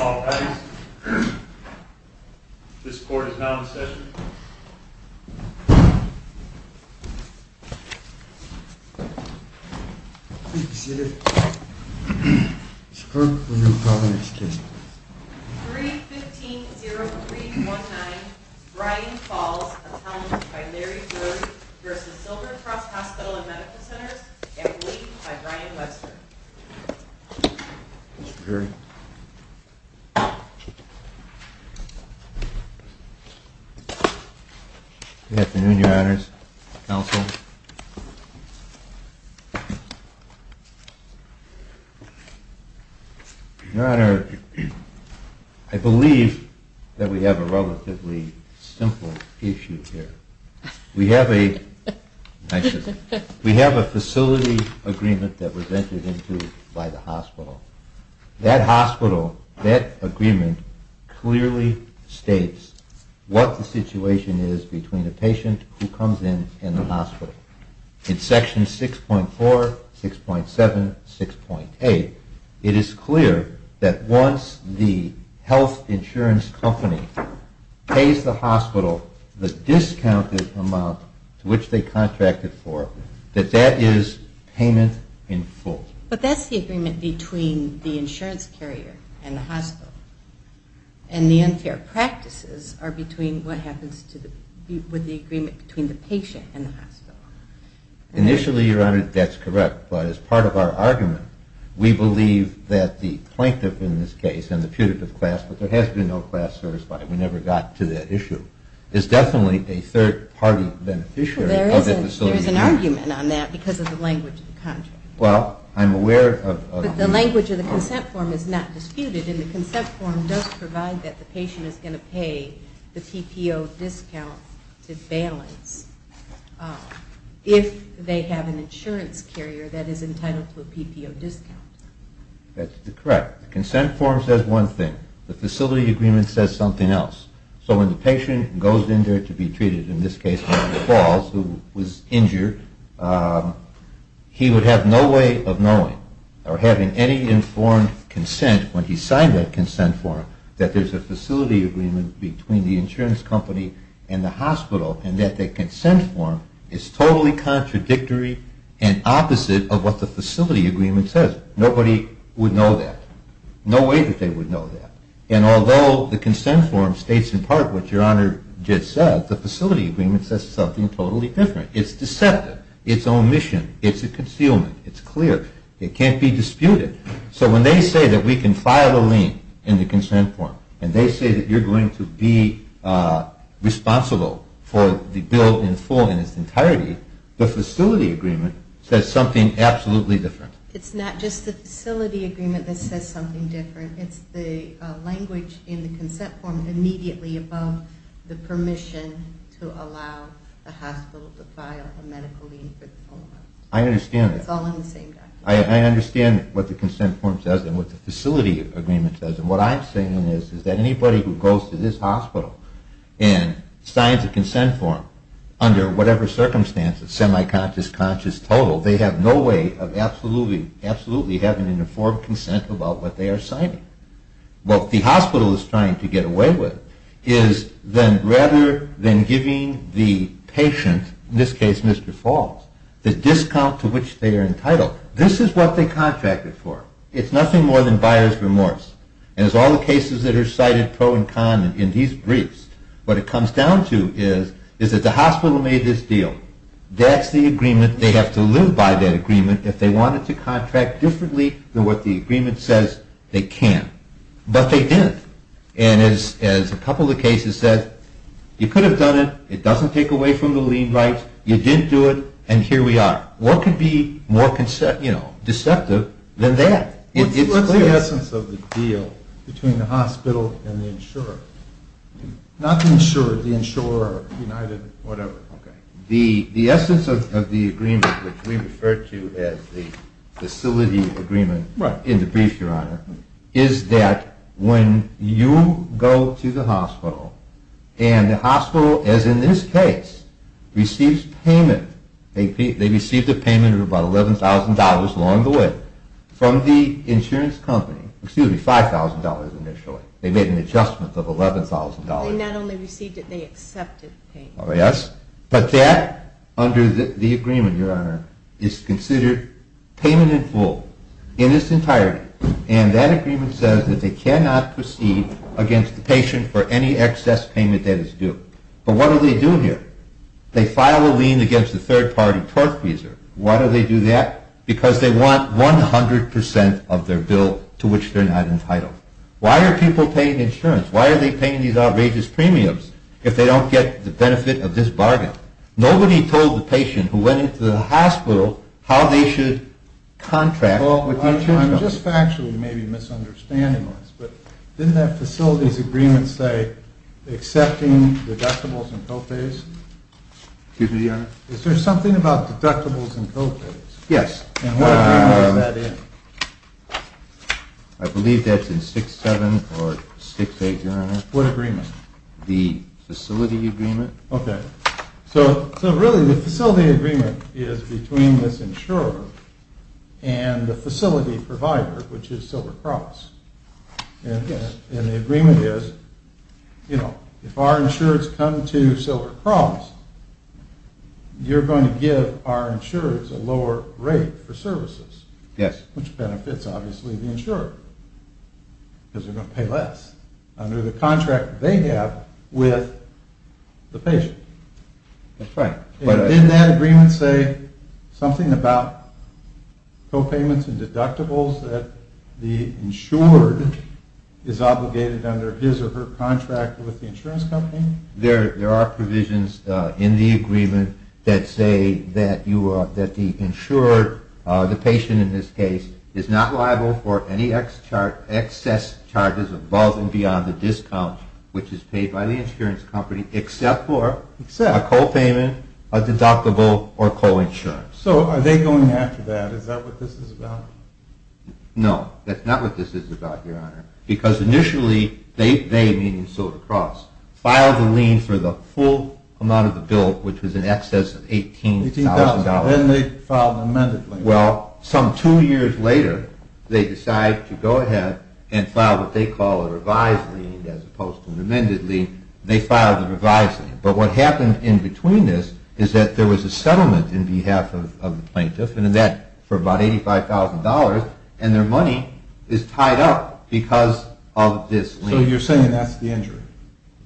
All rise. This court is now in session. Please be seated. Mr. Clerk, will you call the next case, please? 3-15-0319, Brian Falls, attorney by Larry Bird v. Silver Cross Hospital & Medical Centers, employed by Brian Webster. Good afternoon, your honors, counsel. Your honor, I believe that we have a relatively simple issue here. We have a facility agreement that was entered into by the hospital. That hospital, that agreement clearly states what the situation is between a patient who comes in and the hospital. In section 6.4, 6.7, 6.8, it is clear that once the health insurance company pays the hospital the discounted amount to which they contracted for, that that is payment in full. But that's the agreement between the insurance carrier and the hospital. And the unfair practices are between what happens with the agreement between the patient and the hospital. Initially, your honor, that's correct. But as part of our argument, we believe that the plaintiff in this case and the putative class, but there has been no class certified, we never got to that issue, is definitely a third-party beneficiary of the facility contract. But there is an argument on that because of the language of the contract. But the language of the consent form is not disputed and the consent form does provide that the patient is going to pay the PPO discounted balance if they have an insurance carrier that is entitled to a PPO discount. That's correct. The consent form says one thing. The facility agreement says something else. So when the patient goes in there to be treated, in this case, Dr. Falls, who was injured, he would have no way of knowing or having any informed consent when he signed that consent form that there is a facility agreement between the insurance company and the hospital and that the consent form is totally contradictory and opposite of what the facility agreement says. Nobody would know that. No way that they would know that. And although the consent form states in part what your honor just said, the facility agreement says something totally different. It's deceptive. It's omission. It's a concealment. It's clear. It can't be disputed. So when they say that we can file a lien in the consent form and they say that you're going to be responsible for the bill in its entirety, the facility agreement says something absolutely different. It's not just the facility agreement that says something different. It's the language in the consent form immediately above the permission to allow the hospital to file a medical lien. It's all in the same document. I understand what the consent form says and what the facility agreement says. And what I'm saying is that anybody who goes to this hospital and signs a consent form under whatever circumstances, semi-conscious, conscious, total, they have no way of absolutely having an informed consent about what they are signing. What the hospital is trying to get away with is rather than giving the patient, in this case Mr. Falls, the discount to which they are entitled, this is what they contracted for. It's nothing more than buyer's remorse. And as all the cases that are cited pro and con in these briefs, what it comes down to is that the hospital made this deal. That's the agreement. They have to live by that agreement. If they wanted to contract differently than what the agreement says, they can't. But they didn't. And as a couple of cases said, you could have done it. It doesn't take away from the lien rights. You didn't do it, and here we are. What could be more deceptive than that? What's the essence of the deal between the hospital and the insurer? Not the insurer, the insurer, United, whatever. The essence of the agreement, which we refer to as the facility agreement in the brief, Your Honor, is that when you go to the hospital and the hospital, as in this case, receives payment, they received a payment of about $11,000 along the way from the insurance company, excuse me, $5,000 initially. They made an adjustment of $11,000. They not only received it, they accepted the payment. Yes. But that, under the agreement, Your Honor, is considered payment in full in its entirety. And that agreement says that they cannot proceed against the patient for any excess payment that is due. But what do they do here? They file a lien against the third-party tortfeasor. Why do they do that? Because they want 100% of their bill to which they're not entitled. Why are people paying insurance? Why are they paying these outrageous premiums if they don't get the benefit of this bargain? Nobody told the patient who went into the hospital how they should contract with the insurance company. Well, I'm just factually maybe misunderstanding this, but didn't that facility's agreement say accepting deductibles and co-pays? Excuse me, Your Honor. Is there something about deductibles and co-pays? Yes. And what agreement is that in? I believe that's in 6-7 or 6-8, Your Honor. What agreement? The facility agreement. Okay. So really the facility agreement is between this insurer and the facility provider, which is Silver Cross. And the agreement is, you know, if our insurers come to Silver Cross, you're going to give our insurers a lower rate for services. Yes. Which benefits, obviously, the insurer because they're going to pay less under the contract they have with the patient. That's right. Didn't that agreement say something about co-payments and deductibles that the insured is obligated under his or her contract with the insurance company? There are provisions in the agreement that say that the insured, the patient in this case, is not liable for any excess charges above and beyond the discount, which is paid by the insurance company, except for a co-payment, a deductible, or co-insurance. So are they going after that? Is that what this is about? No, that's not what this is about, Your Honor. Because initially they, meaning Silver Cross, filed the lien for the full amount of the bill, which was in excess of $18,000. $18,000. Then they filed an amended lien. Well, some two years later, they decided to go ahead and file what they call a revised lien as opposed to an amended lien. They filed a revised lien. But what happened in between this is that there was a settlement on behalf of the plaintiff for about $85,000, and their money is tied up because of this lien. So you're saying that's the injury?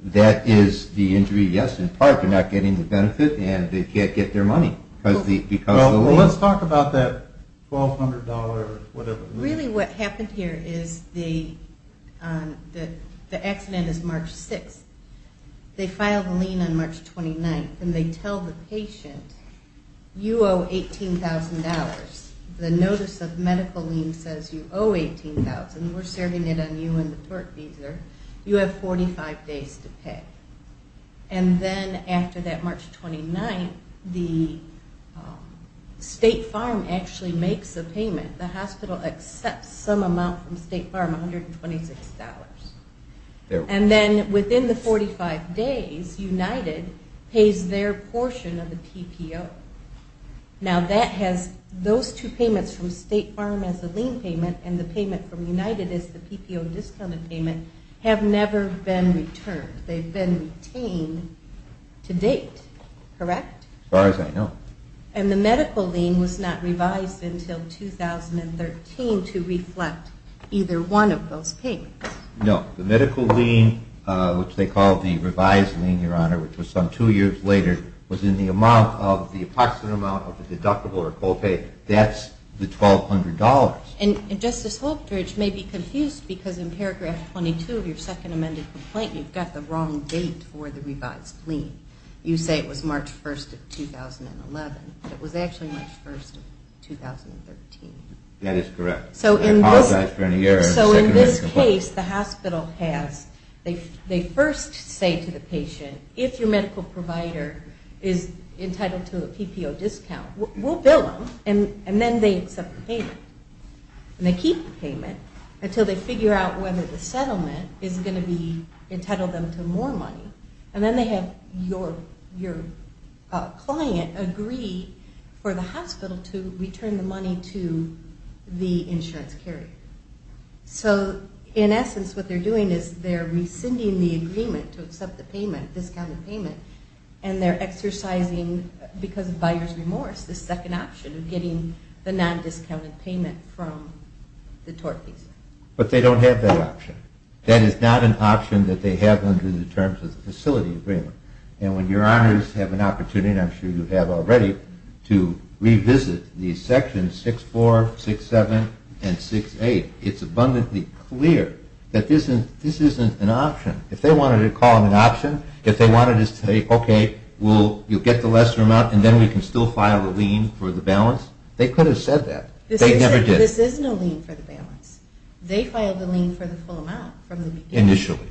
That is the injury, yes, in part. They're not getting the benefit, and they can't get their money because of the lien. Well, let's talk about that $1,200 whatever lien. Really what happened here is the accident is March 6th. They filed a lien on March 29th, and they tell the patient, you owe $18,000. The notice of medical lien says you owe $18,000. We're serving it on you and the tort visa. You have 45 days to pay. And then after that March 29th, the State Farm actually makes a payment. The hospital accepts some amount from State Farm, $126. And then within the 45 days, United pays their portion of the PPO. Now, those two payments from State Farm as a lien payment and the payment from United as the PPO discounted payment have never been returned. They've been retained to date, correct? As far as I know. And the medical lien was not revised until 2013 to reflect either one of those payments. No. The medical lien, which they call the revised lien, Your Honor, which was done two years later, was in the approximate amount of the deductible or co-pay. That's the $1,200. And Justice Holterich may be confused because in paragraph 22 of your second amended complaint, you've got the wrong date for the revised lien. You say it was March 1st of 2011, but it was actually March 1st of 2013. That is correct. So in this case, the hospital has, they first say to the patient, if your medical provider is entitled to a PPO discount, we'll bill them. And then they accept the payment. And they keep the payment until they figure out whether the settlement is going to be entitled them to more money. And then they have your client agree for the hospital to return the money to the insurance carrier. So in essence, what they're doing is they're rescinding the agreement to accept the payment, discounted payment, and they're exercising, because of buyer's remorse, the second option of getting the non-discounted payment from the tort liaison. But they don't have that option. That is not an option that they have under the terms of the facility agreement. And when Your Honors have an opportunity, and I'm sure you have already, to revisit these sections 6-4, 6-7, and 6-8, it's abundantly clear that this isn't an option. If they wanted to call it an option, if they wanted to say, okay, you'll get the lesser amount and then we can still file the lien for the balance, they could have said that. They never did. This is no lien for the balance. They filed the lien for the full amount from the beginning. Initially.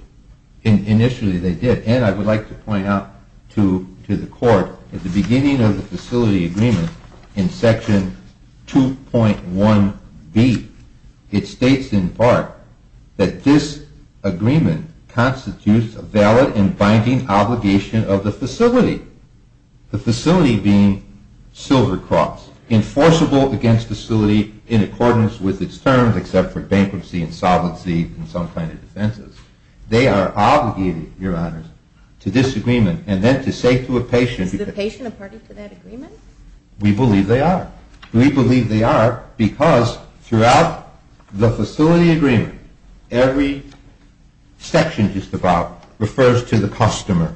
Initially they did. At the end, I would like to point out to the Court, at the beginning of the facility agreement, in Section 2.1B, it states in part that this agreement constitutes a valid and binding obligation of the facility. The facility being Silver Cross, enforceable against the facility in accordance with its terms, except for bankruptcy, insolvency, and some kind of defenses. They are obligated, Your Honors, to this agreement and then to say to a patient… Is the patient a party to that agreement? We believe they are. We believe they are because throughout the facility agreement, every section just about refers to the customer.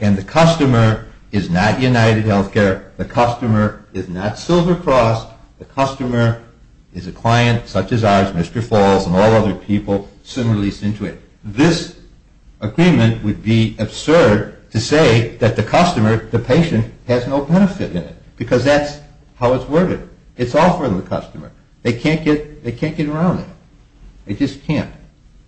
And the customer is not UnitedHealthcare, the customer is not Silver Cross, the customer is a client such as ours, Mr. Falls and all other people similarly sent to it. This agreement would be absurd to say that the customer, the patient, has no benefit in it because that's how it's worded. It's all for the customer. They can't get around that. They just can't.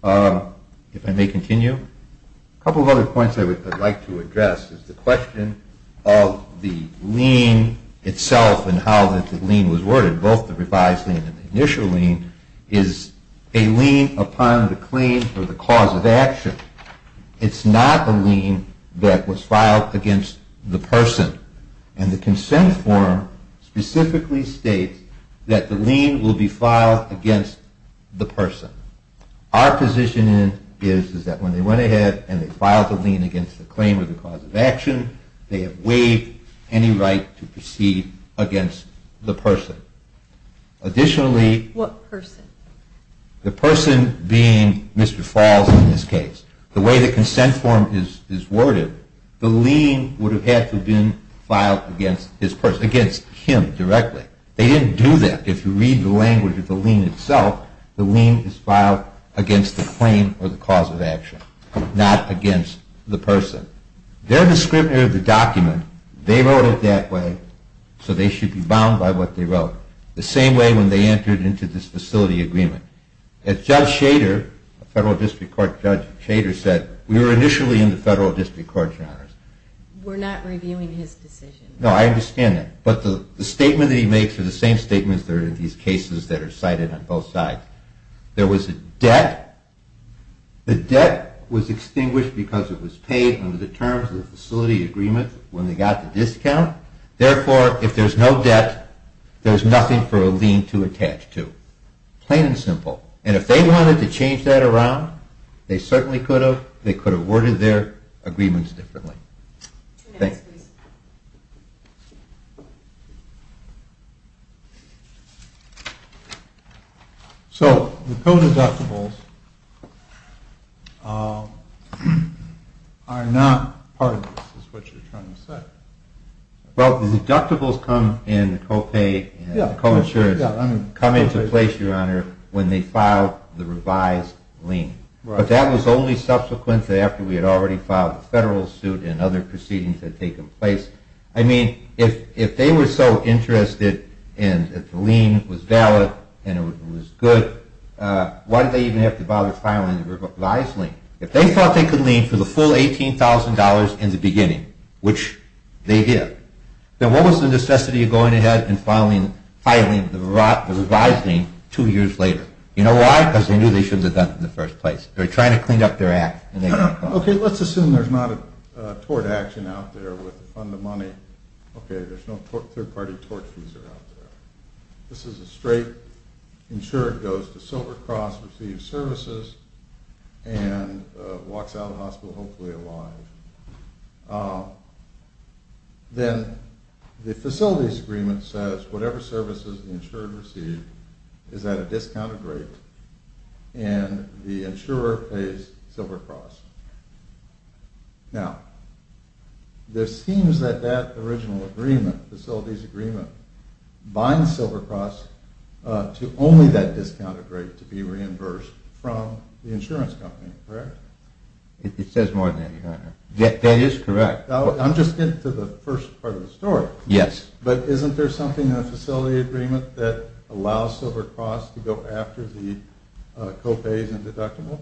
If I may continue, a couple of other points I would like to address. The question of the lien itself and how the lien was worded, both the revised lien and the initial lien, is a lien upon the claim for the cause of action. It's not a lien that was filed against the person. And the consent form specifically states that the lien will be filed against the person. Our position is that when they went ahead and they filed the lien against the claim of the cause of action, they have waived any right to proceed against the person. Additionally… What person? The person being Mr. Falls in this case. The way the consent form is worded, the lien would have had to have been filed against his person, against him directly. They didn't do that. If you read the language of the lien itself, the lien is filed against the claim or the cause of action, not against the person. They're the scrivener of the document. They wrote it that way, so they should be bound by what they wrote. The same way when they entered into this facility agreement. As Judge Shader, a federal district court judge, said, we were initially in the federal district court genres. We're not reviewing his decision. No, I understand that. But the statement that he makes are the same statements that are in these cases that are cited on both sides. There was a debt. The debt was extinguished because it was paid under the terms of the facility agreement when they got the discount. Therefore, if there's no debt, there's nothing for a lien to attach to. Plain and simple. And if they wanted to change that around, they certainly could have. They could have worded their agreements differently. Thank you. So, the co-deductibles are not part of this, is what you're trying to say. Well, the deductibles come in co-pay and co-insurance, come into place, Your Honor, when they file the revised lien. Right. But that was only subsequent to after we had already filed the federal suit and other proceedings had taken place. I mean, if they were so interested and the lien was valid and it was good, why did they even have to bother filing the revised lien? If they thought they could lien for the full $18,000 in the beginning, which they did, then what was the necessity of going ahead and filing the revised lien two years later? You know why? Because they knew they shouldn't have done it in the first place. They were trying to clean up their act. Okay, let's assume there's not a tort action out there with the fund of money. Okay, there's no third-party tort user out there. This is a straight insured goes to Silver Cross, receives services, and walks out of the hospital hopefully alive. Then the facilities agreement says whatever services the insured received is at a discounted rate and the insurer pays Silver Cross. Now, it seems that that original agreement, the facilities agreement, binds Silver Cross to only that discounted rate to be reimbursed from the insurance company, correct? It says more than that, your honor. That is correct. I'm just getting to the first part of the story. Yes. But isn't there something in the facility agreement that allows Silver Cross to go after the co-pays and deductibles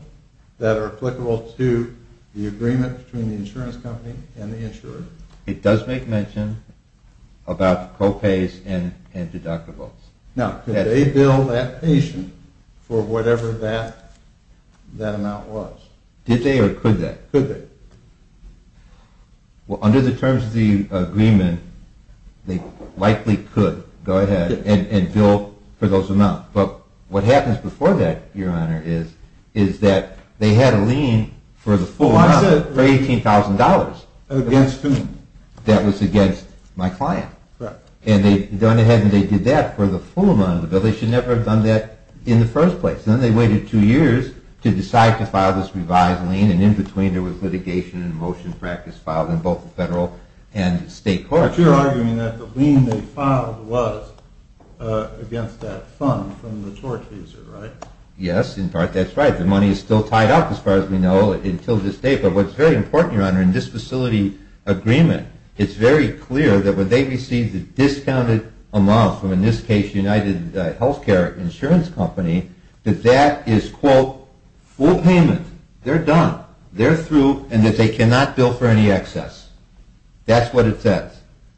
that are applicable to the agreement between the insurance company and the insurer? It does make mention about co-pays and deductibles. Now, could they bill that patient for whatever that amount was? Did they or could they? Could they? Well, under the terms of the agreement, they likely could go ahead and bill for those amounts. But what happens before that, your honor, is that they had a lien for the full amount, for $18,000. Against whom? That was against my client. Correct. And they'd gone ahead and they did that for the full amount of the bill. They should never have done that in the first place. Then they waited two years to decide to file this revised lien, and in between there was litigation and motion practice filed in both the federal and state courts. But you're arguing that the lien they filed was against that fund from the tort user, right? Yes, in part that's right. The money is still tied up, as far as we know, until this day. But what's very important, your honor, in this facility agreement, it's very clear that when they receive the discounted amount from, in this case, UnitedHealthcare Insurance Company, that that is, quote, full payment. They're done. They're through and that they cannot bill for any excess. That's what it says.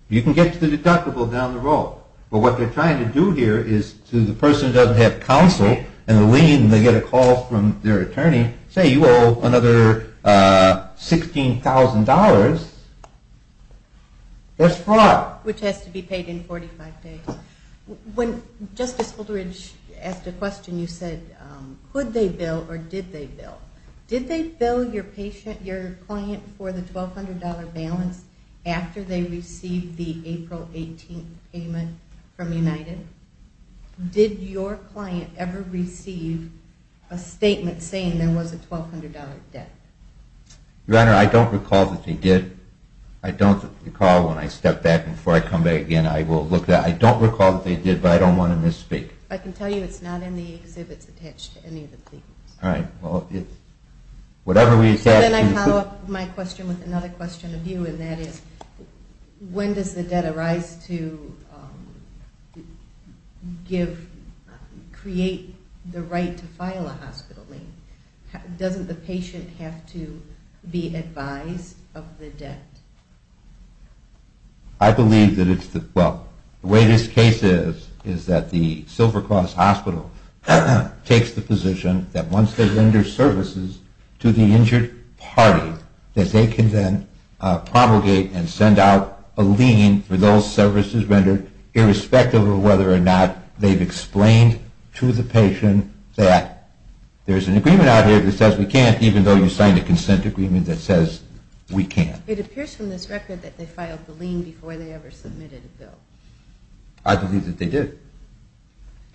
You can get to the deductible down the road. But what they're trying to do here is to the person who doesn't have counsel and a lien and they get a call from their attorney, say you owe another $16,000, that's fraud. Which has to be paid in 45 days. When Justice Holderidge asked a question, you said, could they bill or did they bill? Did they bill your client for the $1,200 balance after they received the April 18th payment from United? Did your client ever receive a statement saying there was a $1,200 debt? Your honor, I don't recall that they did. I don't recall when I stepped back before I come back again. I don't recall that they did, but I don't want to misspeak. I can tell you it's not in the exhibits attached to any of the papers. Then I follow up my question with another question of you and that is, when does the debt arise to create the right to file a hospital lien? Doesn't the patient have to be advised of the debt? I believe that, well, the way this case is, is that the Silver Cross Hospital takes the position that once they render services to the injured party, that they can then promulgate and send out a lien for those services rendered, irrespective of whether or not they've explained to the patient that there's an agreement out here that says we can't, even though you signed a consent agreement that says we can't. It appears from this record that they filed the lien before they ever submitted a bill. I believe that they did.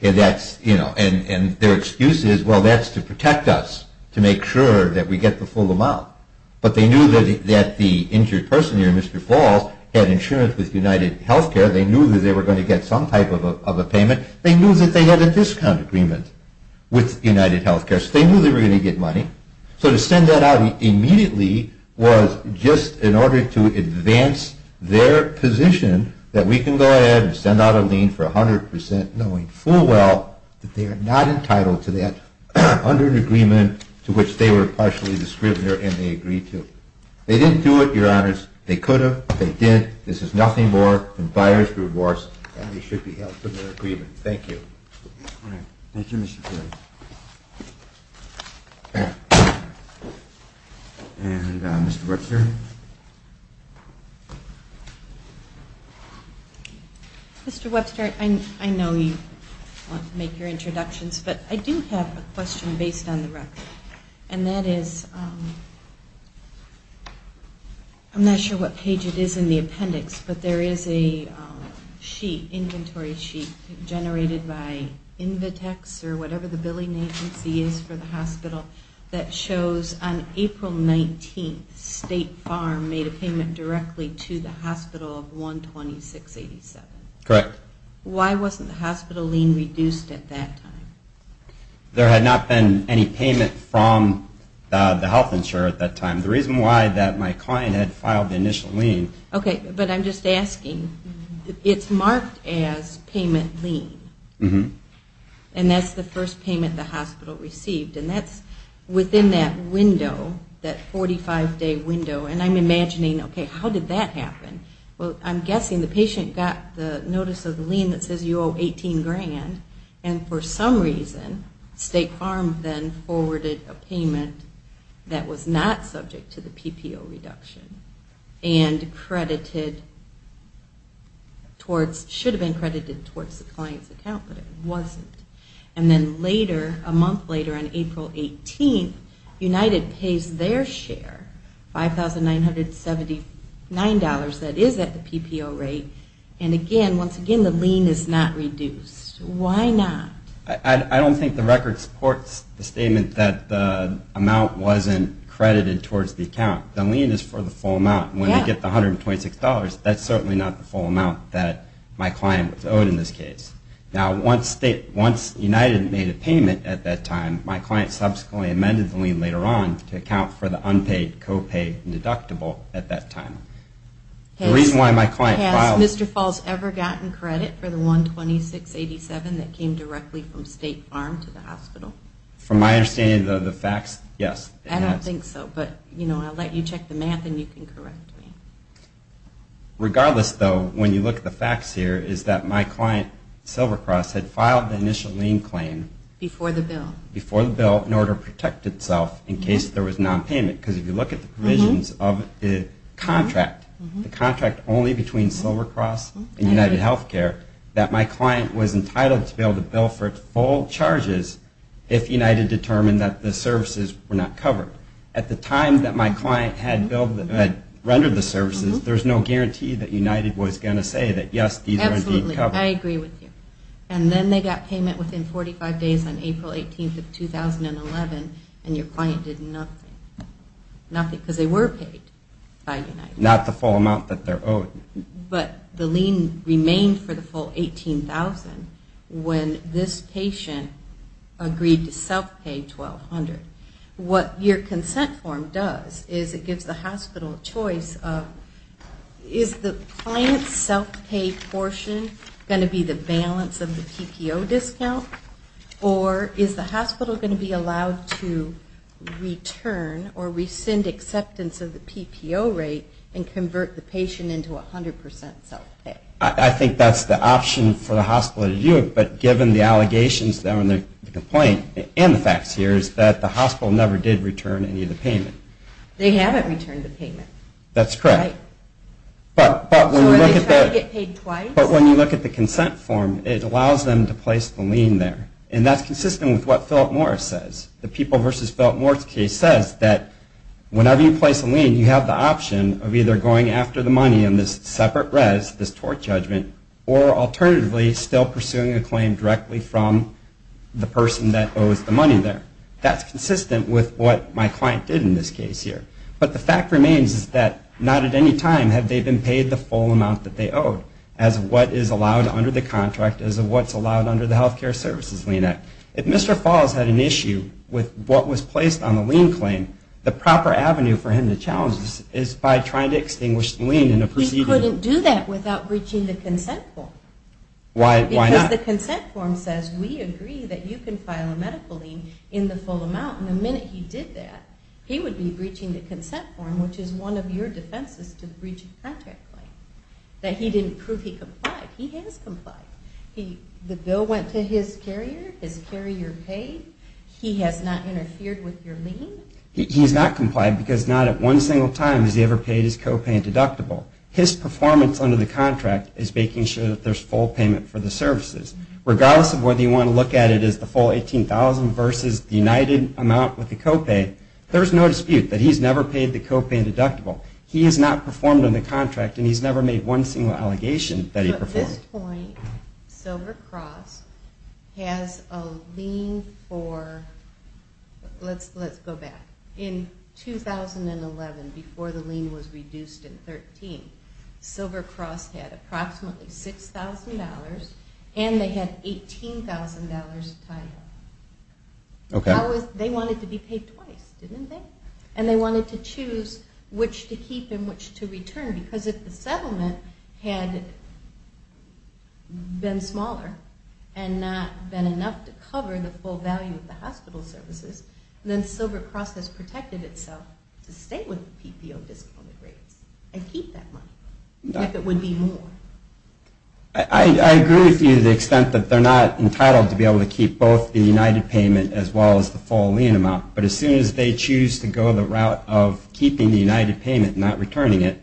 And that's, you know, and their excuse is, well, that's to protect us, to make sure that we get the full amount. But they knew that the injured person here, Mr. Falls, had insurance with UnitedHealthcare. They knew that they were going to get some type of a payment. They knew that they had a discount agreement with UnitedHealthcare, so they knew they were going to get money. So to send that out immediately was just in order to advance their position that we can go ahead and send out a lien for 100%, knowing full well that they are not entitled to that under an agreement to which they were partially the scrivener and they agreed to. They didn't do it, Your Honors. They could have. They didn't. This is nothing more than buyer's divorce, and they should be held to their agreement. Thank you. All right. Thank you, Mr. Perry. And Mr. Webster? Mr. Webster, I know you want to make your introductions, but I do have a question based on the record. And that is, I'm not sure what page it is in the appendix, but there is a sheet, inventory sheet, generated by Invitex or whatever the billing agency is for the hospital, that shows on April 19th State Farm made a payment directly to the hospital of $126.87. Correct. Why wasn't the hospital lien reduced at that time? There had not been any payment from the health insurer at that time. The reason why that my client had filed the initial lien. Okay. But I'm just asking. It's marked as payment lien. And that's the first payment the hospital received. And that's within that window, that 45-day window. And I'm imagining, okay, how did that happen? Well, I'm guessing the patient got the notice of the lien that says you owe 18 grand. And for some reason State Farm then forwarded a payment that was not subject to the PPO reduction. And credited towards, should have been credited towards the client's account, but it wasn't. And then later, a month later on April 18th, United pays their share, $5,979 that is at the PPO rate. And again, once again, the lien is not reduced. Why not? I don't think the record supports the statement that the amount wasn't credited towards the account. The lien is for the full amount. When they get the $126, that's certainly not the full amount that my client was owed in this case. Now, once United made a payment at that time, my client subsequently amended the lien later on to account for the unpaid, copaid, and deductible at that time. Has Mr. Falls ever gotten credit for the $126.87 that came directly from State Farm to the hospital? From my understanding of the facts, yes. I don't think so, but I'll let you check the math and you can correct me. Regardless, though, when you look at the facts here, is that my client, Silvercross, had filed the initial lien claim. Before the bill. Before the bill in order to protect itself in case there was nonpayment. Because if you look at the provisions of the contract, the contract only between Silvercross and United Health Care, that my client was entitled to be able to bill for its full charges if United determined that the services were not covered. At the time that my client had rendered the services, there's no guarantee that United was going to say that, yes, these were indeed covered. Absolutely. I agree with you. And then they got payment within 45 days on April 18th of 2011, and your client did nothing. Nothing, because they were paid by United. Not the full amount that they're owed. But the lien remained for the full $18,000 when this patient agreed to self-pay $1,200. What your consent form does is it gives the hospital a choice of, is the client's self-pay portion going to be the balance of the PPO discount? Or is the hospital going to be allowed to return or rescind acceptance of the PPO rate and convert the patient into 100% self-pay? I think that's the option for the hospital to do it. But given the allegations and the complaint and the facts here is that the hospital never did return any of the payment. They haven't returned the payment. That's correct. Right. So are they trying to get paid twice? But when you look at the consent form, it allows them to place the lien there. And that's consistent with what Philip Morris says. The People v. Philip Morris case says that whenever you place a lien, you have the option of either going after the money in this separate res, this tort judgment, or alternatively still pursuing a claim directly from the person that owes the money there. That's consistent with what my client did in this case here. But the fact remains is that not at any time have they been paid the full amount that they owed as of what is allowed under the contract, as of what's allowed under the Health Care Services Lien Act. If Mr. Falls had an issue with what was placed on the lien claim, the proper avenue for him to challenge this is by trying to extinguish the lien in a proceeding. He couldn't do that without breaching the consent form. Why not? Because the consent form says, we agree that you can file a medical lien in the full amount. And the minute he did that, he would be breaching the consent form, which is one of your defenses to the breach of contract claim, that he didn't prove he complied. He has complied. The bill went to his carrier. His carrier paid. He has not interfered with your lien. He has not complied because not at one single time has he ever paid his copay and deductible. His performance under the contract is making sure that there's full payment for the services. Regardless of whether you want to look at it as the full $18,000 versus the united amount with the copay, there's no dispute that he's never paid the copay and deductible. He has not performed under the contract, and he's never made one single allegation that he performed. At this point, Silver Cross has a lien for, let's go back. In 2011, before the lien was reduced in 2013, Silver Cross had approximately $6,000, and they had $18,000 tied up. They wanted to be paid twice, didn't they? And they wanted to choose which to keep and which to return, because if the settlement had been smaller and not been enough to cover the full value of the hospital services, then Silver Cross has protected itself to stay with the PPO discounted rates and keep that money if it would be more. I agree with you to the extent that they're not entitled to be able to keep both the united payment as well as the full lien amount, but as soon as they choose to go the route of keeping the united payment and not returning it,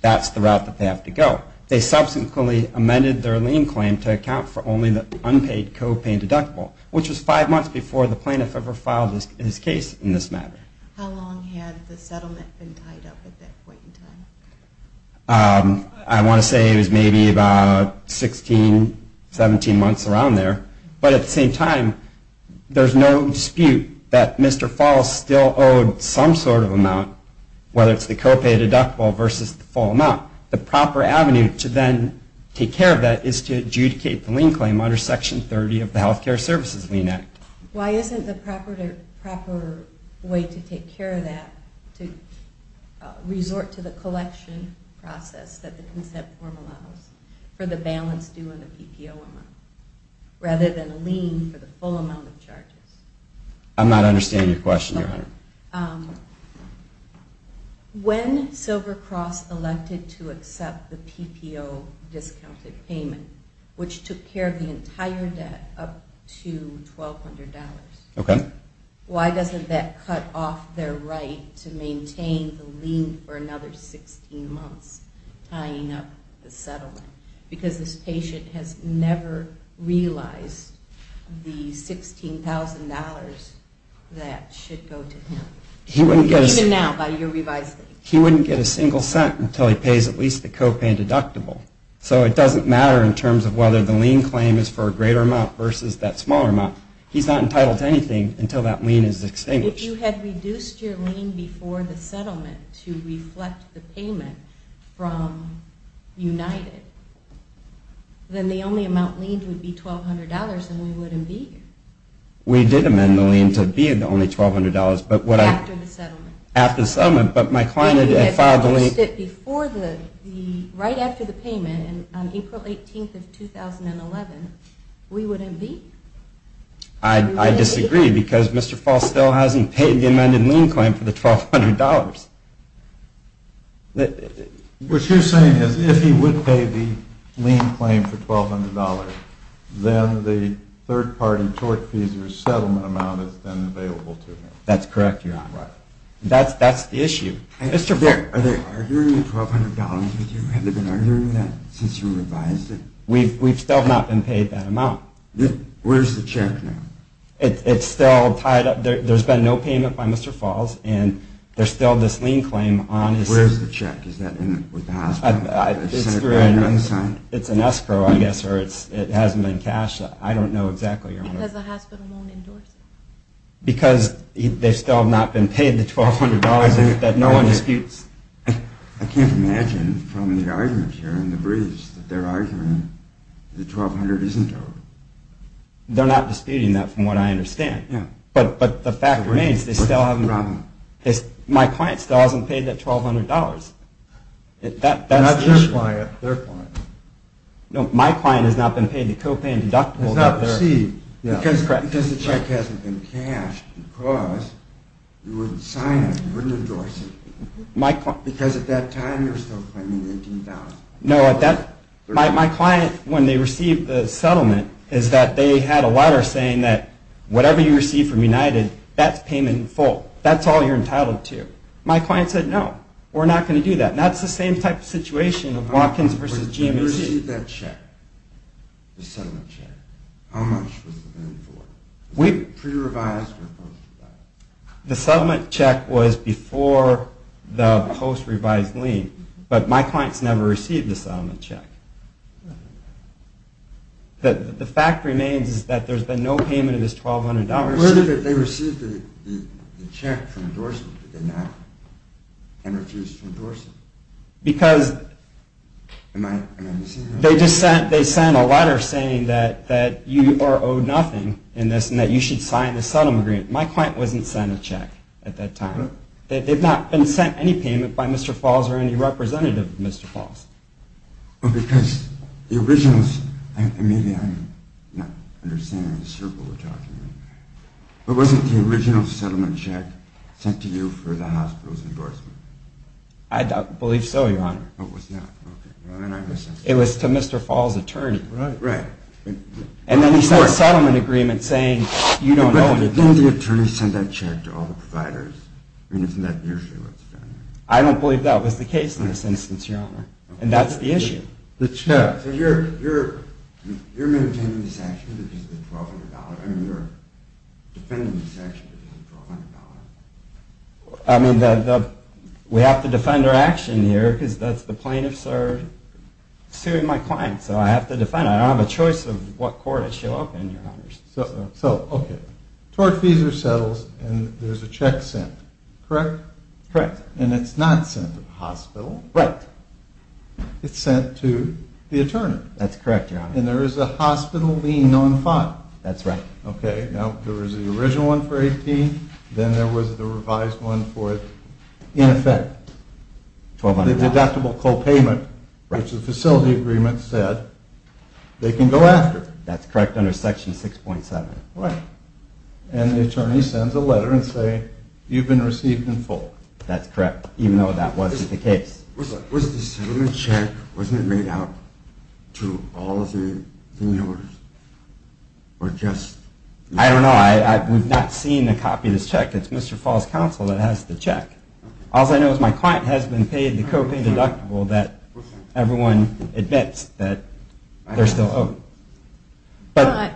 that's the route that they have to go. They subsequently amended their lien claim to account for only the unpaid copay and deductible, which was five months before the plaintiff ever filed his case in this matter. How long had the settlement been tied up at that point in time? I want to say it was maybe about 16, 17 months around there. But at the same time, there's no dispute that Mr. Falls still owed some sort of amount, whether it's the copay or deductible versus the full amount. The proper avenue to then take care of that is to adjudicate the lien claim under Section 30 of the Health Care Services Lien Act. Why isn't the proper way to take care of that to resort to the collection process that the consent form allows for the balance due and the PPO amount, rather than a lien for the full amount of charges? I'm not understanding your question, Your Honor. When Silver Cross elected to accept the PPO discounted payment, which took care of the entire debt up to $1,200, why doesn't that cut off their right to maintain the lien for another 16 months tying up the settlement? Because this patient has never realized the $16,000 that should go to him, even now by your revised state. He wouldn't get a single cent until he pays at least the copay and deductible. So it doesn't matter in terms of whether the lien claim is for a greater amount versus that smaller amount. He's not entitled to anything until that lien is extinguished. If you had reduced your lien before the settlement to reflect the payment from United, then the only amount liened would be $1,200 and we wouldn't be. We did amend the lien to be only $1,200, but what I... After the settlement. After the settlement, but my client had filed the lien... Right after the payment on April 18th of 2011, we wouldn't be? I disagree because Mr. Falstell hasn't paid the amended lien claim for the $1,200. What you're saying is if he would pay the lien claim for $1,200, then the third party tort fees or settlement amount is then available to him. That's correct, Your Honor. Right. That's the issue. Are they arguing the $1,200 with you? Have they been arguing that since you revised it? We've still not been paid that amount. Where's the check now? It's still tied up. There's been no payment by Mr. Falls, and there's still this lien claim on his... Where's the check? Is that with the hospital? It's an escrow, I guess, or it hasn't been cashed. I don't know exactly, Your Honor. Because the hospital won't endorse it? Because they still have not been paid the $1,200 that no one disputes? I can't imagine from the arguments here in the briefs that they're arguing the $1,200 isn't owed. They're not disputing that from what I understand. Yeah. But the fact remains they still haven't... What's the problem? My client still hasn't paid that $1,200. That's the issue. Not your client, their client. No, my client has not been paid the copay and deductible that they're... Because the check hasn't been cashed, because you wouldn't sign it, you wouldn't endorse it. Because at that time you were still claiming $18,000. No, my client, when they received the settlement, is that they had a letter saying that whatever you receive from United, that's payment in full. That's all you're entitled to. My client said, no, we're not going to do that. And that's the same type of situation of Watkins v. GMH. They received that check, the settlement check. How much was it then for? Was it pre-revised or post-revised? The settlement check was before the post-revised lien, but my clients never received the settlement check. The fact remains is that there's been no payment of this $1,200. Where did they receive the check for endorsement? Did they not? And refused to endorse it? Because they sent a letter saying that you are owed nothing in this and that you should sign the settlement agreement. My client wasn't sent a check at that time. They've not been sent any payment by Mr. Falls or any representative of Mr. Falls. Because the original, and maybe I'm not understanding the circle we're talking in, but wasn't the original settlement check sent to you for the hospital's endorsement? I believe so, Your Honor. Oh, it was not. Okay. It was to Mr. Falls' attorney. Right. And then he sent a settlement agreement saying you don't owe anything. But didn't the attorney send that check to all the providers? I mean, isn't that usually what's done? I don't believe that was the case in this instance, Your Honor. And that's the issue. So you're maintaining this action because of the $1,200? I mean, you're defending this action because of the $1,200? I mean, we have to defend our action here because that's the plaintiffs are suing my client, so I have to defend it. I don't have a choice of what court I show up in, Your Honor. So, okay, tort fees are settled and there's a check sent, correct? Correct. And it's not sent to the hospital? Right. It's sent to the attorney? That's correct, Your Honor. And there is a hospital lien on file? That's right. Okay, now there was the original one for $18,000, then there was the revised one for it. In effect, the deductible copayment, which the facility agreement said they can go after. That's correct under Section 6.7. Right. And the attorney sends a letter and says, you've been received in full. That's correct, even though that wasn't the case. Was the settlement check, wasn't it made out to all of the debtors? I don't know. We've not seen a copy of this check. It's Mr. Falls' counsel that has the check. All I know is my client has been paid the copay deductible that everyone admits that they're still owed. But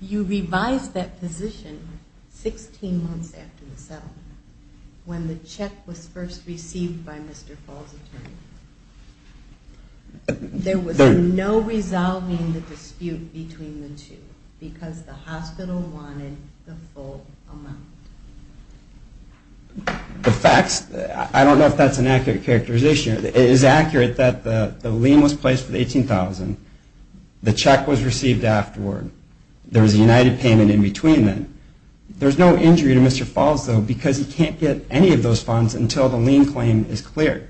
you revised that position 16 months after the settlement when the check was first received by Mr. Falls' attorney. There was no resolving the dispute between the two because the hospital wanted the full amount. The facts, I don't know if that's an accurate characterization. It is accurate that the lien was placed for the $18,000. The check was received afterward. There was a united payment in between then. There's no injury to Mr. Falls, though, because he can't get any of those funds until the lien claim is cleared.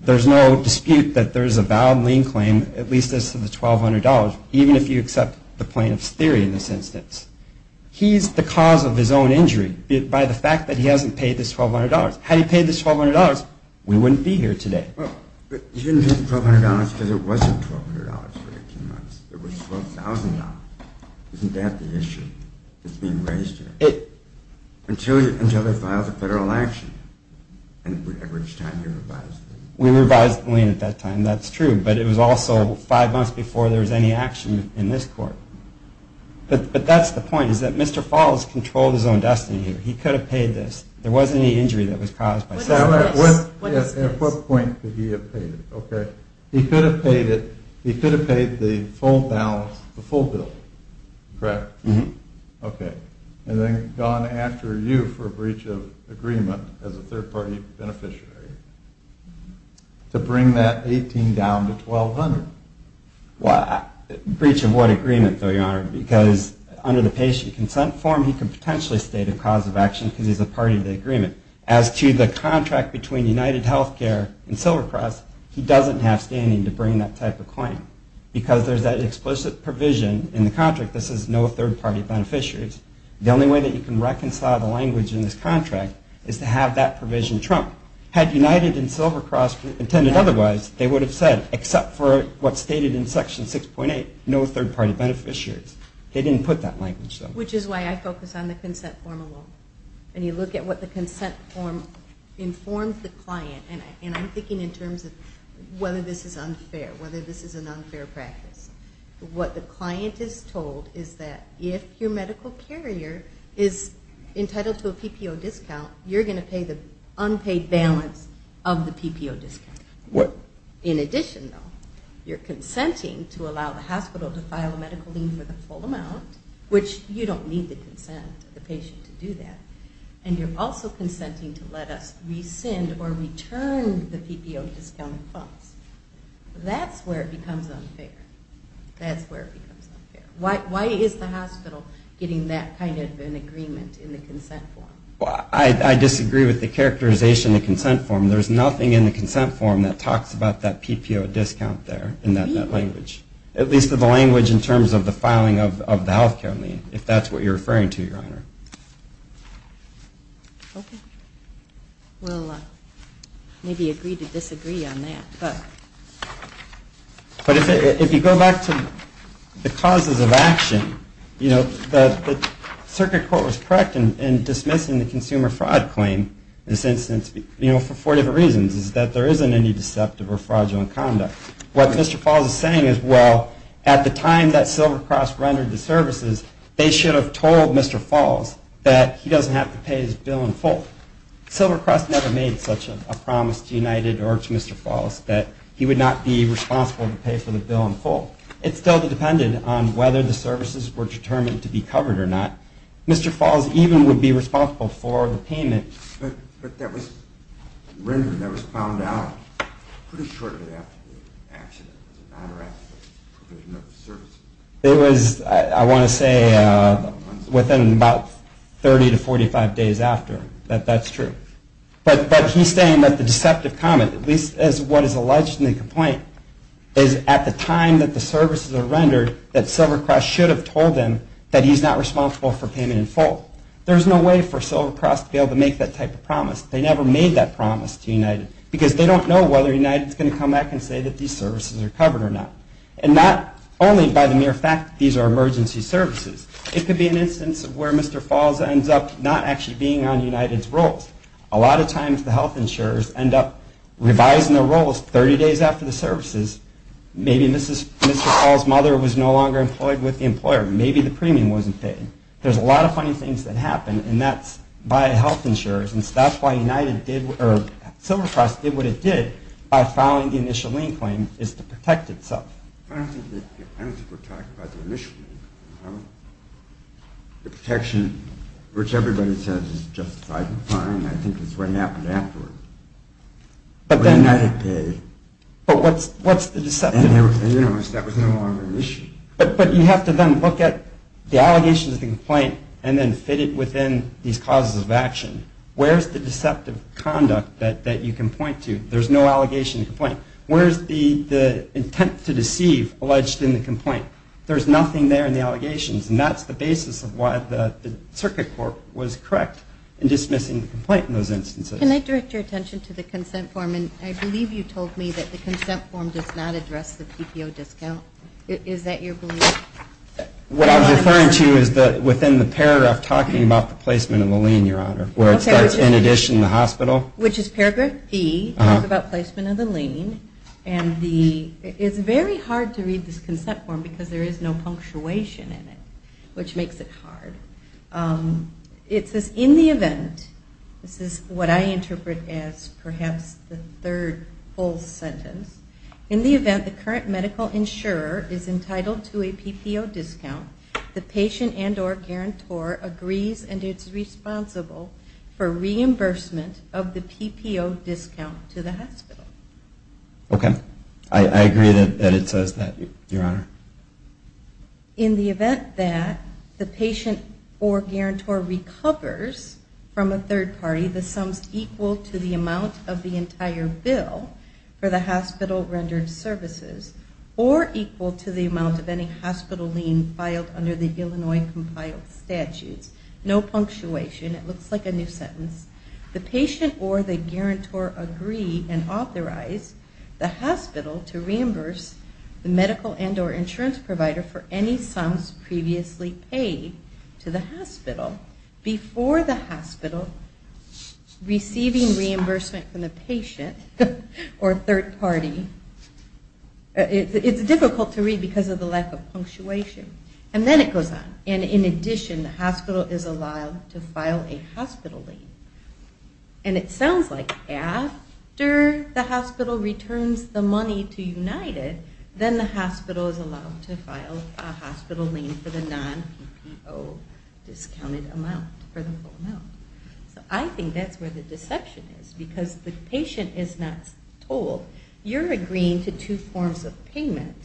There's no dispute that there's a valid lien claim, at least as to the $1,200, even if you accept the plaintiff's theory in this instance. He's the cause of his own injury by the fact that he hasn't paid this $1,200. Had he paid this $1,200, we wouldn't be here today. But he didn't pay the $1,200 because it wasn't $1,200 for 18 months. It was $12,000. Isn't that the issue that's being raised here? Until they file the federal action and it would average time to revise the lien. We revised the lien at that time, that's true. But it was also five months before there was any action in this court. But that's the point is that Mr. Falls controlled his own destiny here. He could have paid this. There wasn't any injury that was caused by this. At what point could he have paid it? He could have paid the full balance, the full bill, correct? Okay. And then gone after you for breach of agreement as a third-party beneficiary to bring that $18,000 down to $1,200. Breach of what agreement, though, Your Honor? Because under the patient consent form, he could potentially state a cause of action because he's a party to the agreement. As to the contract between UnitedHealthcare and SilverCross, he doesn't have standing to bring that type of claim. Because there's that explicit provision in the contract that says no third-party beneficiaries. The only way that you can reconcile the language in this contract is to have that provision trumped. Had United and SilverCross intended otherwise, they would have said, except for what's stated in Section 6.8, no third-party beneficiaries. They didn't put that language, though. Which is why I focus on the consent form alone. And you look at what the consent form informs the client, and I'm thinking in terms of whether this is unfair, whether this is an unfair practice. What the client is told is that if your medical carrier is entitled to a PPO discount, you're going to pay the unpaid balance of the PPO discount. What? In addition, though, you're consenting to allow the hospital to file a medical lien for the full amount, which you don't need the consent of the patient to do that, and you're also consenting to let us rescind or return the PPO discounted funds. That's where it becomes unfair. That's where it becomes unfair. Why is the hospital getting that kind of an agreement in the consent form? I disagree with the characterization of the consent form. There's nothing in the consent form that talks about that PPO discount there in that language, at least of the language in terms of the filing of the health care lien, if that's what you're referring to, Your Honor. Okay. We'll maybe agree to disagree on that. But if you go back to the causes of action, you know, the circuit court was correct in dismissing the consumer fraud claim in this instance, you know, for four different reasons. It's that there isn't any deceptive or fraudulent conduct. What Mr. Falls is saying is, well, at the time that Silvercross rendered the services, they should have told Mr. Falls that he doesn't have to pay his bill in full. Silvercross never made such a promise to United or to Mr. Falls that he would not be responsible to pay for the bill in full. It still depended on whether the services were determined to be covered or not. Mr. Falls even would be responsible for the payment. But that was rendered, that was found out pretty shortly after the accident, as a matter of fact, provision of the services. It was, I want to say, within about 30 to 45 days after. That's true. But he's saying that the deceptive comment, at least as what is alleged in the complaint, is at the time that the services are rendered, that Silvercross should have told him that he's not responsible for payment in full. There's no way for Silvercross to be able to make that type of promise. They never made that promise to United because they don't know whether United is going to come back and say that these services are covered or not. And not only by the mere fact that these are emergency services. It could be an instance where Mr. Falls ends up not actually being on United's rolls. A lot of times the health insurers end up revising their roles 30 days after the services. Maybe Mr. Falls' mother was no longer employed with the employer. Maybe the premium wasn't paid. There's a lot of funny things that happen, and that's by health insurers. And so that's why Silvercross did what it did by filing the initial lien claim, is to protect itself. I don't think it's to protect by the initial lien claim. The protection, which everybody says is justified and fine, I think is what happened afterwards. But United paid. But what's the deceptive? In any case, that was no longer an issue. But you have to then look at the allegations of the complaint and then fit it within these causes of action. Where's the deceptive conduct that you can point to? There's no allegation in the complaint. Where's the intent to deceive alleged in the complaint? There's nothing there in the allegations, and that's the basis of why the Circuit Court was correct in dismissing the complaint in those instances. Can I direct your attention to the consent form? And I believe you told me that the consent form does not address the PPO discount. Is that your belief? What I was referring to is that within the paragraph talking about the placement of the lien, Your Honor, where it starts in addition to the hospital. Which is paragraph B. It's about placement of the lien. And it's very hard to read this consent form because there is no punctuation in it, which makes it hard. It says, in the event, this is what I interpret as perhaps the third full sentence. In the event the current medical insurer is entitled to a PPO discount, the patient and or guarantor agrees and is responsible for reimbursement of the PPO discount to the hospital. Okay. I agree that it says that, Your Honor. In the event that the patient or guarantor recovers from a third party, the sums equal to the amount of the entire bill for the hospital rendered services, or equal to the amount of any hospital lien filed under the Illinois compiled statutes. No punctuation. It looks like a new sentence. The patient or the guarantor agree and authorize the hospital to reimburse the medical and or insurance provider for any sums previously paid to the hospital. Before the hospital receiving reimbursement from the patient or third party. It's difficult to read because of the lack of punctuation. And then it goes on. And in addition, the hospital is allowed to file a hospital lien. And it sounds like after the hospital returns the money to United, then the hospital is allowed to file a hospital lien for the non-PPO discounted amount. I think that's where the deception is. Because the patient is not told. You're agreeing to two forms of payment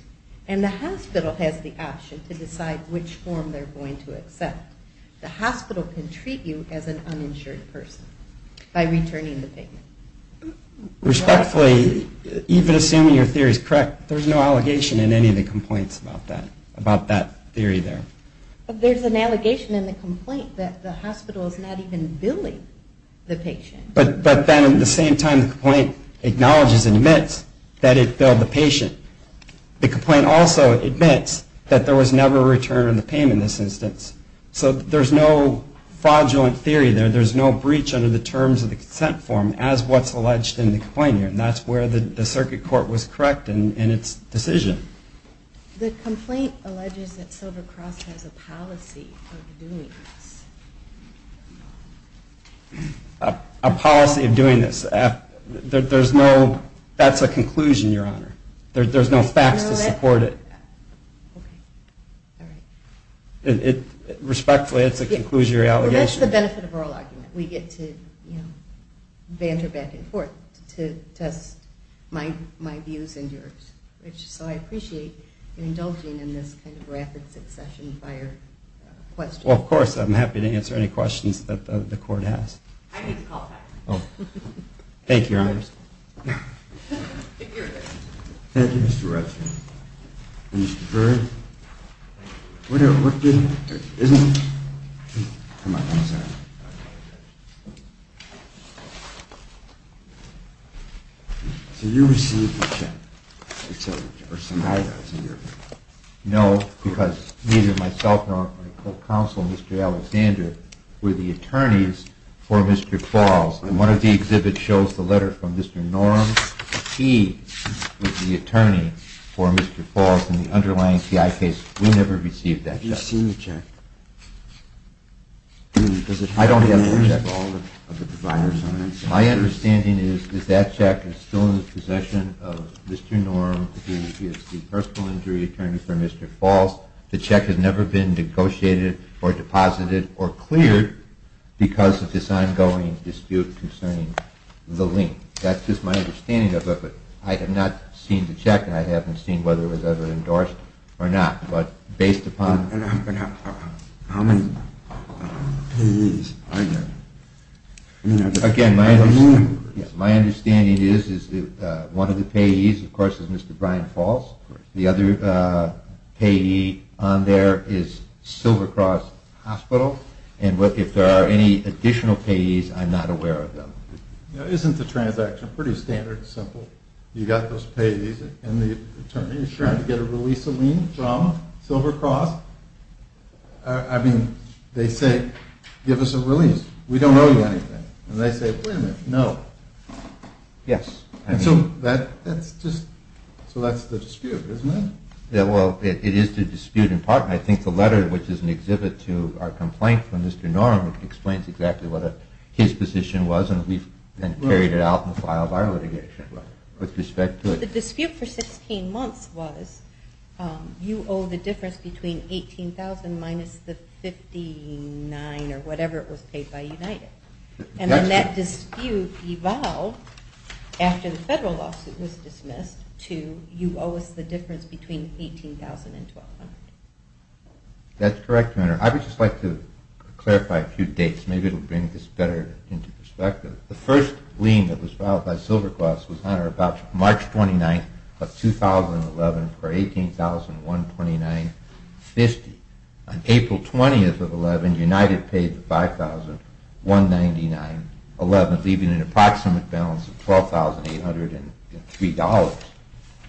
and the hospital has the option to decide which form they're going to accept. The hospital can treat you as an uninsured person by returning the payment. Respectfully, even assuming your theory is correct, there's no allegation in any of the complaints about that theory there. There's an allegation in the complaint that the hospital is not even billing the patient. But then at the same time the complaint acknowledges and admits that it billed the patient. The complaint also admits that there was never a return on the payment in this instance. So there's no fraudulent theory there. There's no breach under the terms of the consent form as what's alleged in the complaint here. And that's where the circuit court was correct in its decision. The complaint alleges that Silver Cross has a policy of doing this. A policy of doing this. That's a conclusion, Your Honor. There's no facts to support it. Respectfully, that concludes your allegation. That's the benefit of oral argument. We get to banter back and forth to test my views and yours. So I appreciate you indulging in this rapid succession of questions. Well, of course, I'm happy to answer any questions that the court has. Thank you, Your Honor. Thank you, Mr. Retschman. Mr. Byrd. What did... Come on. I'm sorry. So you received a check. No, because neither myself nor my co-counsel, Mr. Alexander, were the attorneys for Mr. Falls. And one of the exhibits shows the letter from Mr. Norum. He was the attorney for Mr. Falls in the underlying PI case. We never received that check. I've just seen the check. I don't have the check. All of the providers have it. My understanding is that that check is still in the possession of Mr. Norum. He is the personal injury attorney for Mr. Falls. The check has never been negotiated or deposited or cleared because of this ongoing dispute concerning the lien. That's just my understanding of it. I have not seen the check, and I haven't seen whether it was ever endorsed or not. But based upon... How many payees are there? Again, my understanding is that one of the payees, of course, is Mr. Brian Falls. The other payee on there is Silver Cross Hospital. And if there are any additional payees, I'm not aware of them. Isn't the transaction pretty standard and simple? You got those payees, and the attorney is trying to get a release of lien from Silver Cross. I mean, they say, give us a release. We don't owe you anything. And they say, wait a minute, no. Yes. So that's the dispute, isn't it? Well, it is the dispute in part. And I think the letter, which is an exhibit to our complaint from Mr. Norum, explains exactly what his position was. And we've carried it out in the file of our litigation with respect to it. The dispute for 16 months was you owe the difference between $18,000 minus the $59,000 or whatever it was paid by United. And then that dispute evolved after the federal lawsuit was dismissed to you owe us the difference between $18,000 and $1,200. That's correct, Your Honor. I would just like to clarify a few dates. Maybe it will bring this better into perspective. The first lien that was filed by Silver Cross was, Your Honor, about March 29th of 2011 for $18,129.50. On April 20th of 2011, United paid the $5,199.11, leaving an approximate balance of $12,803.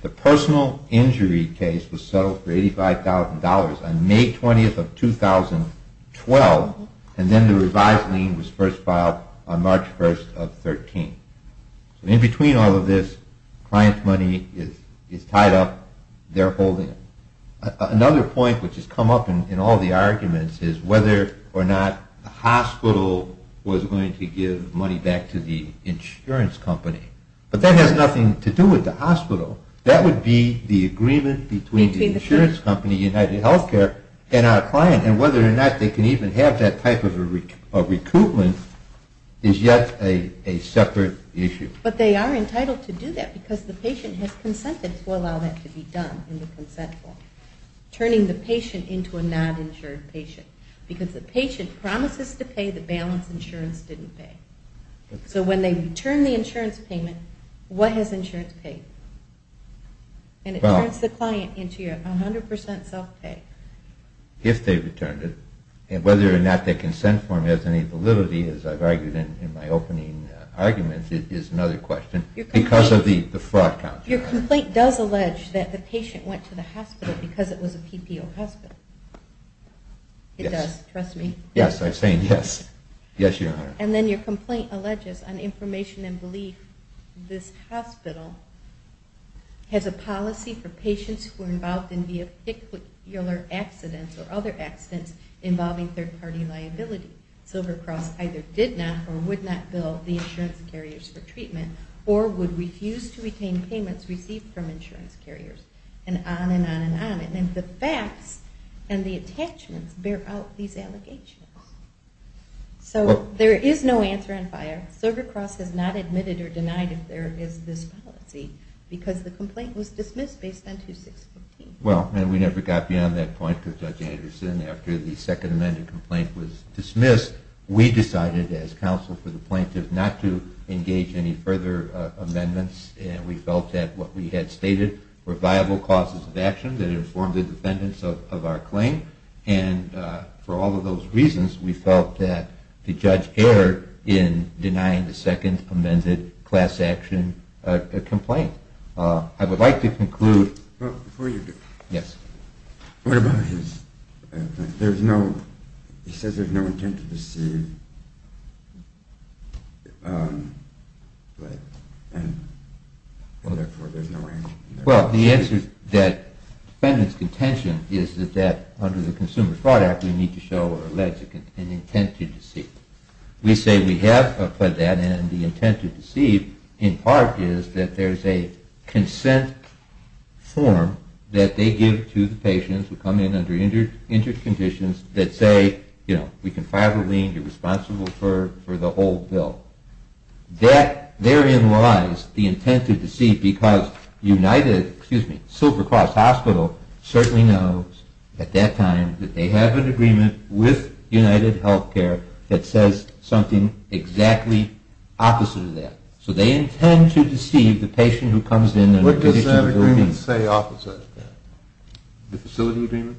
The personal injury case was settled for $85,000 on May 20th of 2012. And then the revised lien was first filed on March 1st of 2013. In between all of this, client's money is tied up. They're holding it. Another point which has come up in all the arguments is whether or not the hospital was going to give money back to the insurance company. But that has nothing to do with the hospital. That would be the agreement between the insurance company, United Healthcare, and our client. And whether or not they can even have that type of recoupment is yet a separate issue. But they are entitled to do that because the patient has consented to allow that to be done in the consent form, turning the patient into a non-insured patient. Because the patient promises to pay the balance insurance didn't pay. So when they return the insurance payment, what has insurance paid? And it turns the client into a 100% self-pay. If they returned it. And whether or not the consent form has any validity, as I've argued in my opening argument, is another question. Because of the fraud count. Your complaint does allege that the patient went to the hospital because it was a PPO hospital. Yes. It does, trust me. Yes, I'm saying yes. Yes, Your Honor. And then your complaint alleges on information and belief this hospital has a policy for patients who are involved in vehicular accidents or other accidents involving third-party liability. Silver Cross either did not or would not bill the insurance carriers for treatment or would refuse to retain payments received from insurance carriers. And on and on and on. And the facts and the attachments bear out these allegations. So there is no answer on fire. Silver Cross has not admitted or denied if there is this policy. Because the complaint was dismissed based on 2615. Well, and we never got beyond that point with Judge Anderson. After the Second Amendment complaint was dismissed, we decided as counsel for the plaintiff not to engage any further amendments. And we felt that what we had stated were viable causes of action that informed the defendants of our claim. And for all of those reasons, we felt that the judge erred in denying the second amended class action complaint. I would like to conclude. Before you do. Yes. What about his, there's no, he says there's no intent to deceive. And therefore there's no action. Well, the answer to that defendant's contention is that under the Consumer Fraud Act we need to show or allege an intent to deceive. We say we have put that and the intent to deceive in part is that there's a consent form that they give to the patients who come in under injured conditions that say, you know, we can file a lien, you're responsible for the whole bill. That therein lies the intent to deceive because United, excuse me, Silver Cross Hospital certainly knows at that time that they have an agreement with United Healthcare that says something exactly opposite of that. So they intend to deceive the patient who comes in. What does that agreement say opposite of that? The facility agreement?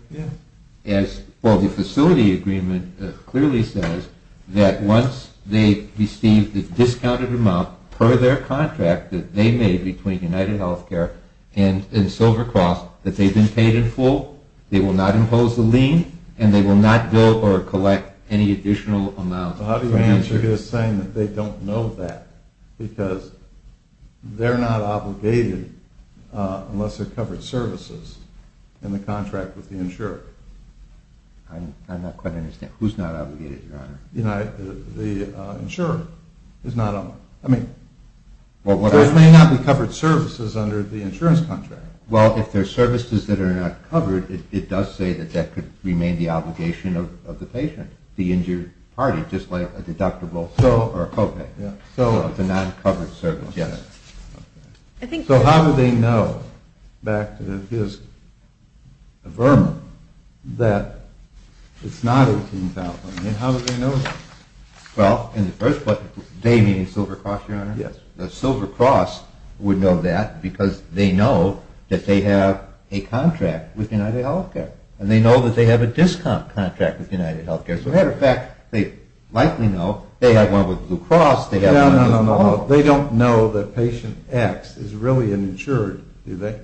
Well, the facility agreement clearly says that once they receive the discounted amount per their contract that they made between United Healthcare and Silver Cross that they've been paid in full, they will not impose a lien, and they will not bill or collect any additional amount. How do you answer his saying that they don't know that? Because they're not obligated unless they're covered services in the contract with the insurer. I'm not quite understanding. Who's not obligated, Your Honor? The insurer is not on there. There may not be covered services under the insurance contract. Well, if there's services that are not covered, it does say that that could remain the obligation of the patient, the injured party, just like a deductible or a copay. So it's a non-covered service. Yes. So how do they know, back to his vermin, that it's not 18,000? I mean, how do they know that? Well, in the first place, they mean Silver Cross, Your Honor? Yes. The Silver Cross would know that because they know that they have a contract with United Healthcare, and they know that they have a discount contract with United Healthcare. As a matter of fact, they likely know they have one with Blue Cross. No, no, no. They don't know that patient X is really an insured, do they?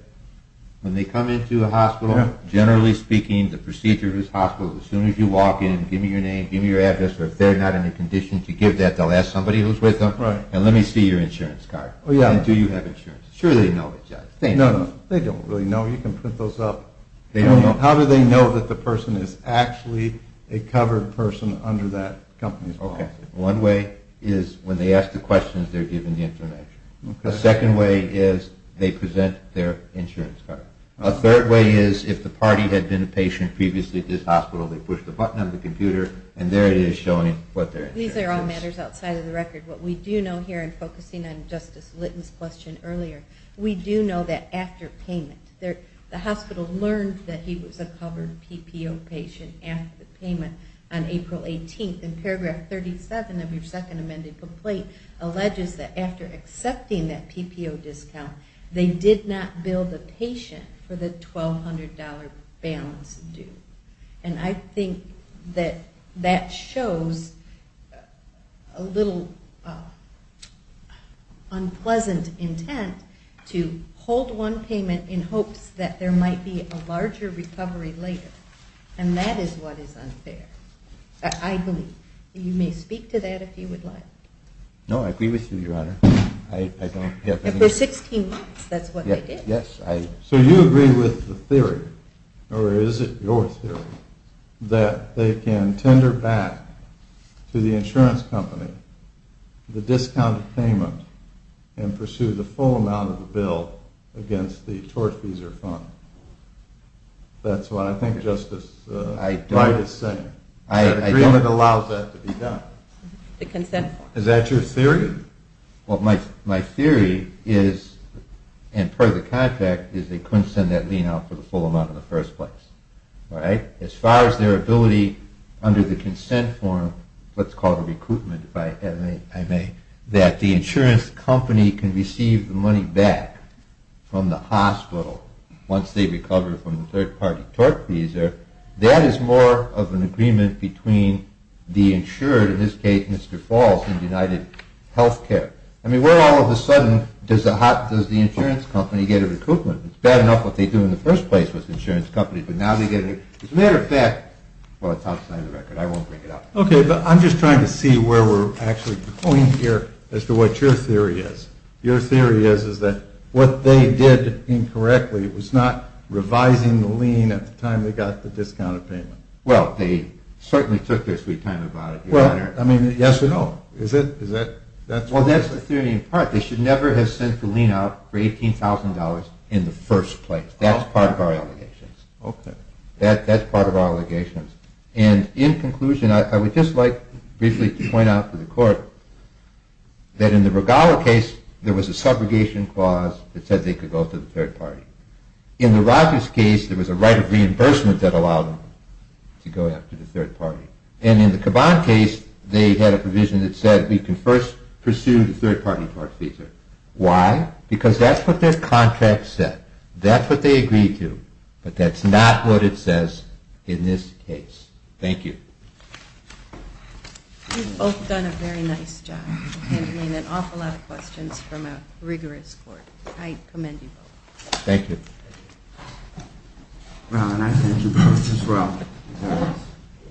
When they come into a hospital, generally speaking, the procedure of this hospital, as soon as you walk in, give me your name, give me your address, or if they're not in a condition to give that, they'll ask somebody who's with them, and let me see your insurance card. Oh, yeah. And do you have insurance? Sure they know it, Judge. No, no. They don't really know. You can print those up. They don't know. They don't know that the person is actually a covered person under that company's policy. Okay. One way is when they ask the questions, they're given the information. Okay. The second way is they present their insurance card. Okay. A third way is if the party had been a patient previously at this hospital, they push the button on the computer, and there it is showing what their insurance is. These are all matters outside of the record. What we do know here, and focusing on Justice Litten's question earlier, we do know that after payment, the hospital learned that he was a covered PPO patient after the payment on April 18th, and paragraph 37 of your second amended complaint alleges that after accepting that PPO discount, they did not bill the patient for the $1,200 balance due. And I think that that shows a little unpleasant intent to hold one payment in hopes that there might be a larger recovery later. And that is what is unfair, I believe. You may speak to that if you would like. No, I agree with you, Your Honor. I don't have anything to say. After 16 months, that's what they did. Yes. So you agree with the theory, or is it your theory, that they can tender back to the insurance company the discounted payment and pursue the full amount of the bill against the tortfeasor fund. That's what I think Justice Wright is saying. I don't. The agreement allows that to be done. The consent form. Is that your theory? My theory is, and per the contract, is they couldn't send that lien out for the full amount in the first place. As far as their ability under the consent form, let's call it a recoupment if I may, that the insurance company can receive the money back from the hospital once they recover from the third-party tortfeasor, that is more of an agreement between the insured, in this case Mr. Falls, and UnitedHealthcare. I mean, where all of a sudden does the insurance company get a recoupment? It's bad enough what they do in the first place with insurance companies, but now they get a recoupment. As a matter of fact, well, it's outside the record. I won't bring it up. Okay, but I'm just trying to see where we're actually going here as to what your theory is. Your theory is that what they did incorrectly was not revising the lien at the time they got the discounted payment. Well, they certainly took their sweet time about it, Your Honor. Well, I mean, yes or no? Well, that's the theory in part. They should never have sent the lien out for $18,000 in the first place. That's part of our allegations. Okay. That's part of our allegations. And in conclusion, I would just like briefly to point out to the court that in the Regala case, there was a subrogation clause that said they could go to the third party. In the Rogers case, there was a right of reimbursement that allowed them to go after the third party. And in the Caban case, they had a provision that said we can first pursue the third party part feature. Why? Because that's what their contract said. That's what they agreed to. But that's not what it says in this case. Thank you. You've both done a very nice job handling an awful lot of questions from a rigorous court. I commend you both. Thank you. Well, and I thank you both as well.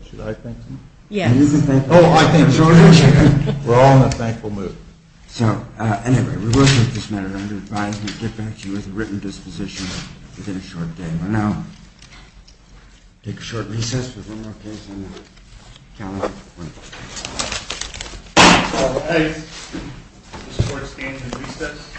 Should I thank them? Yes. Oh, I thank you. We're all in a thankful mood. So, anyway, we will take this matter under advisement and get back to you with a written disposition within a short day. We'll now take a short recess. We have one more case on the calendar. Thank you. Okay. This court stands in recess.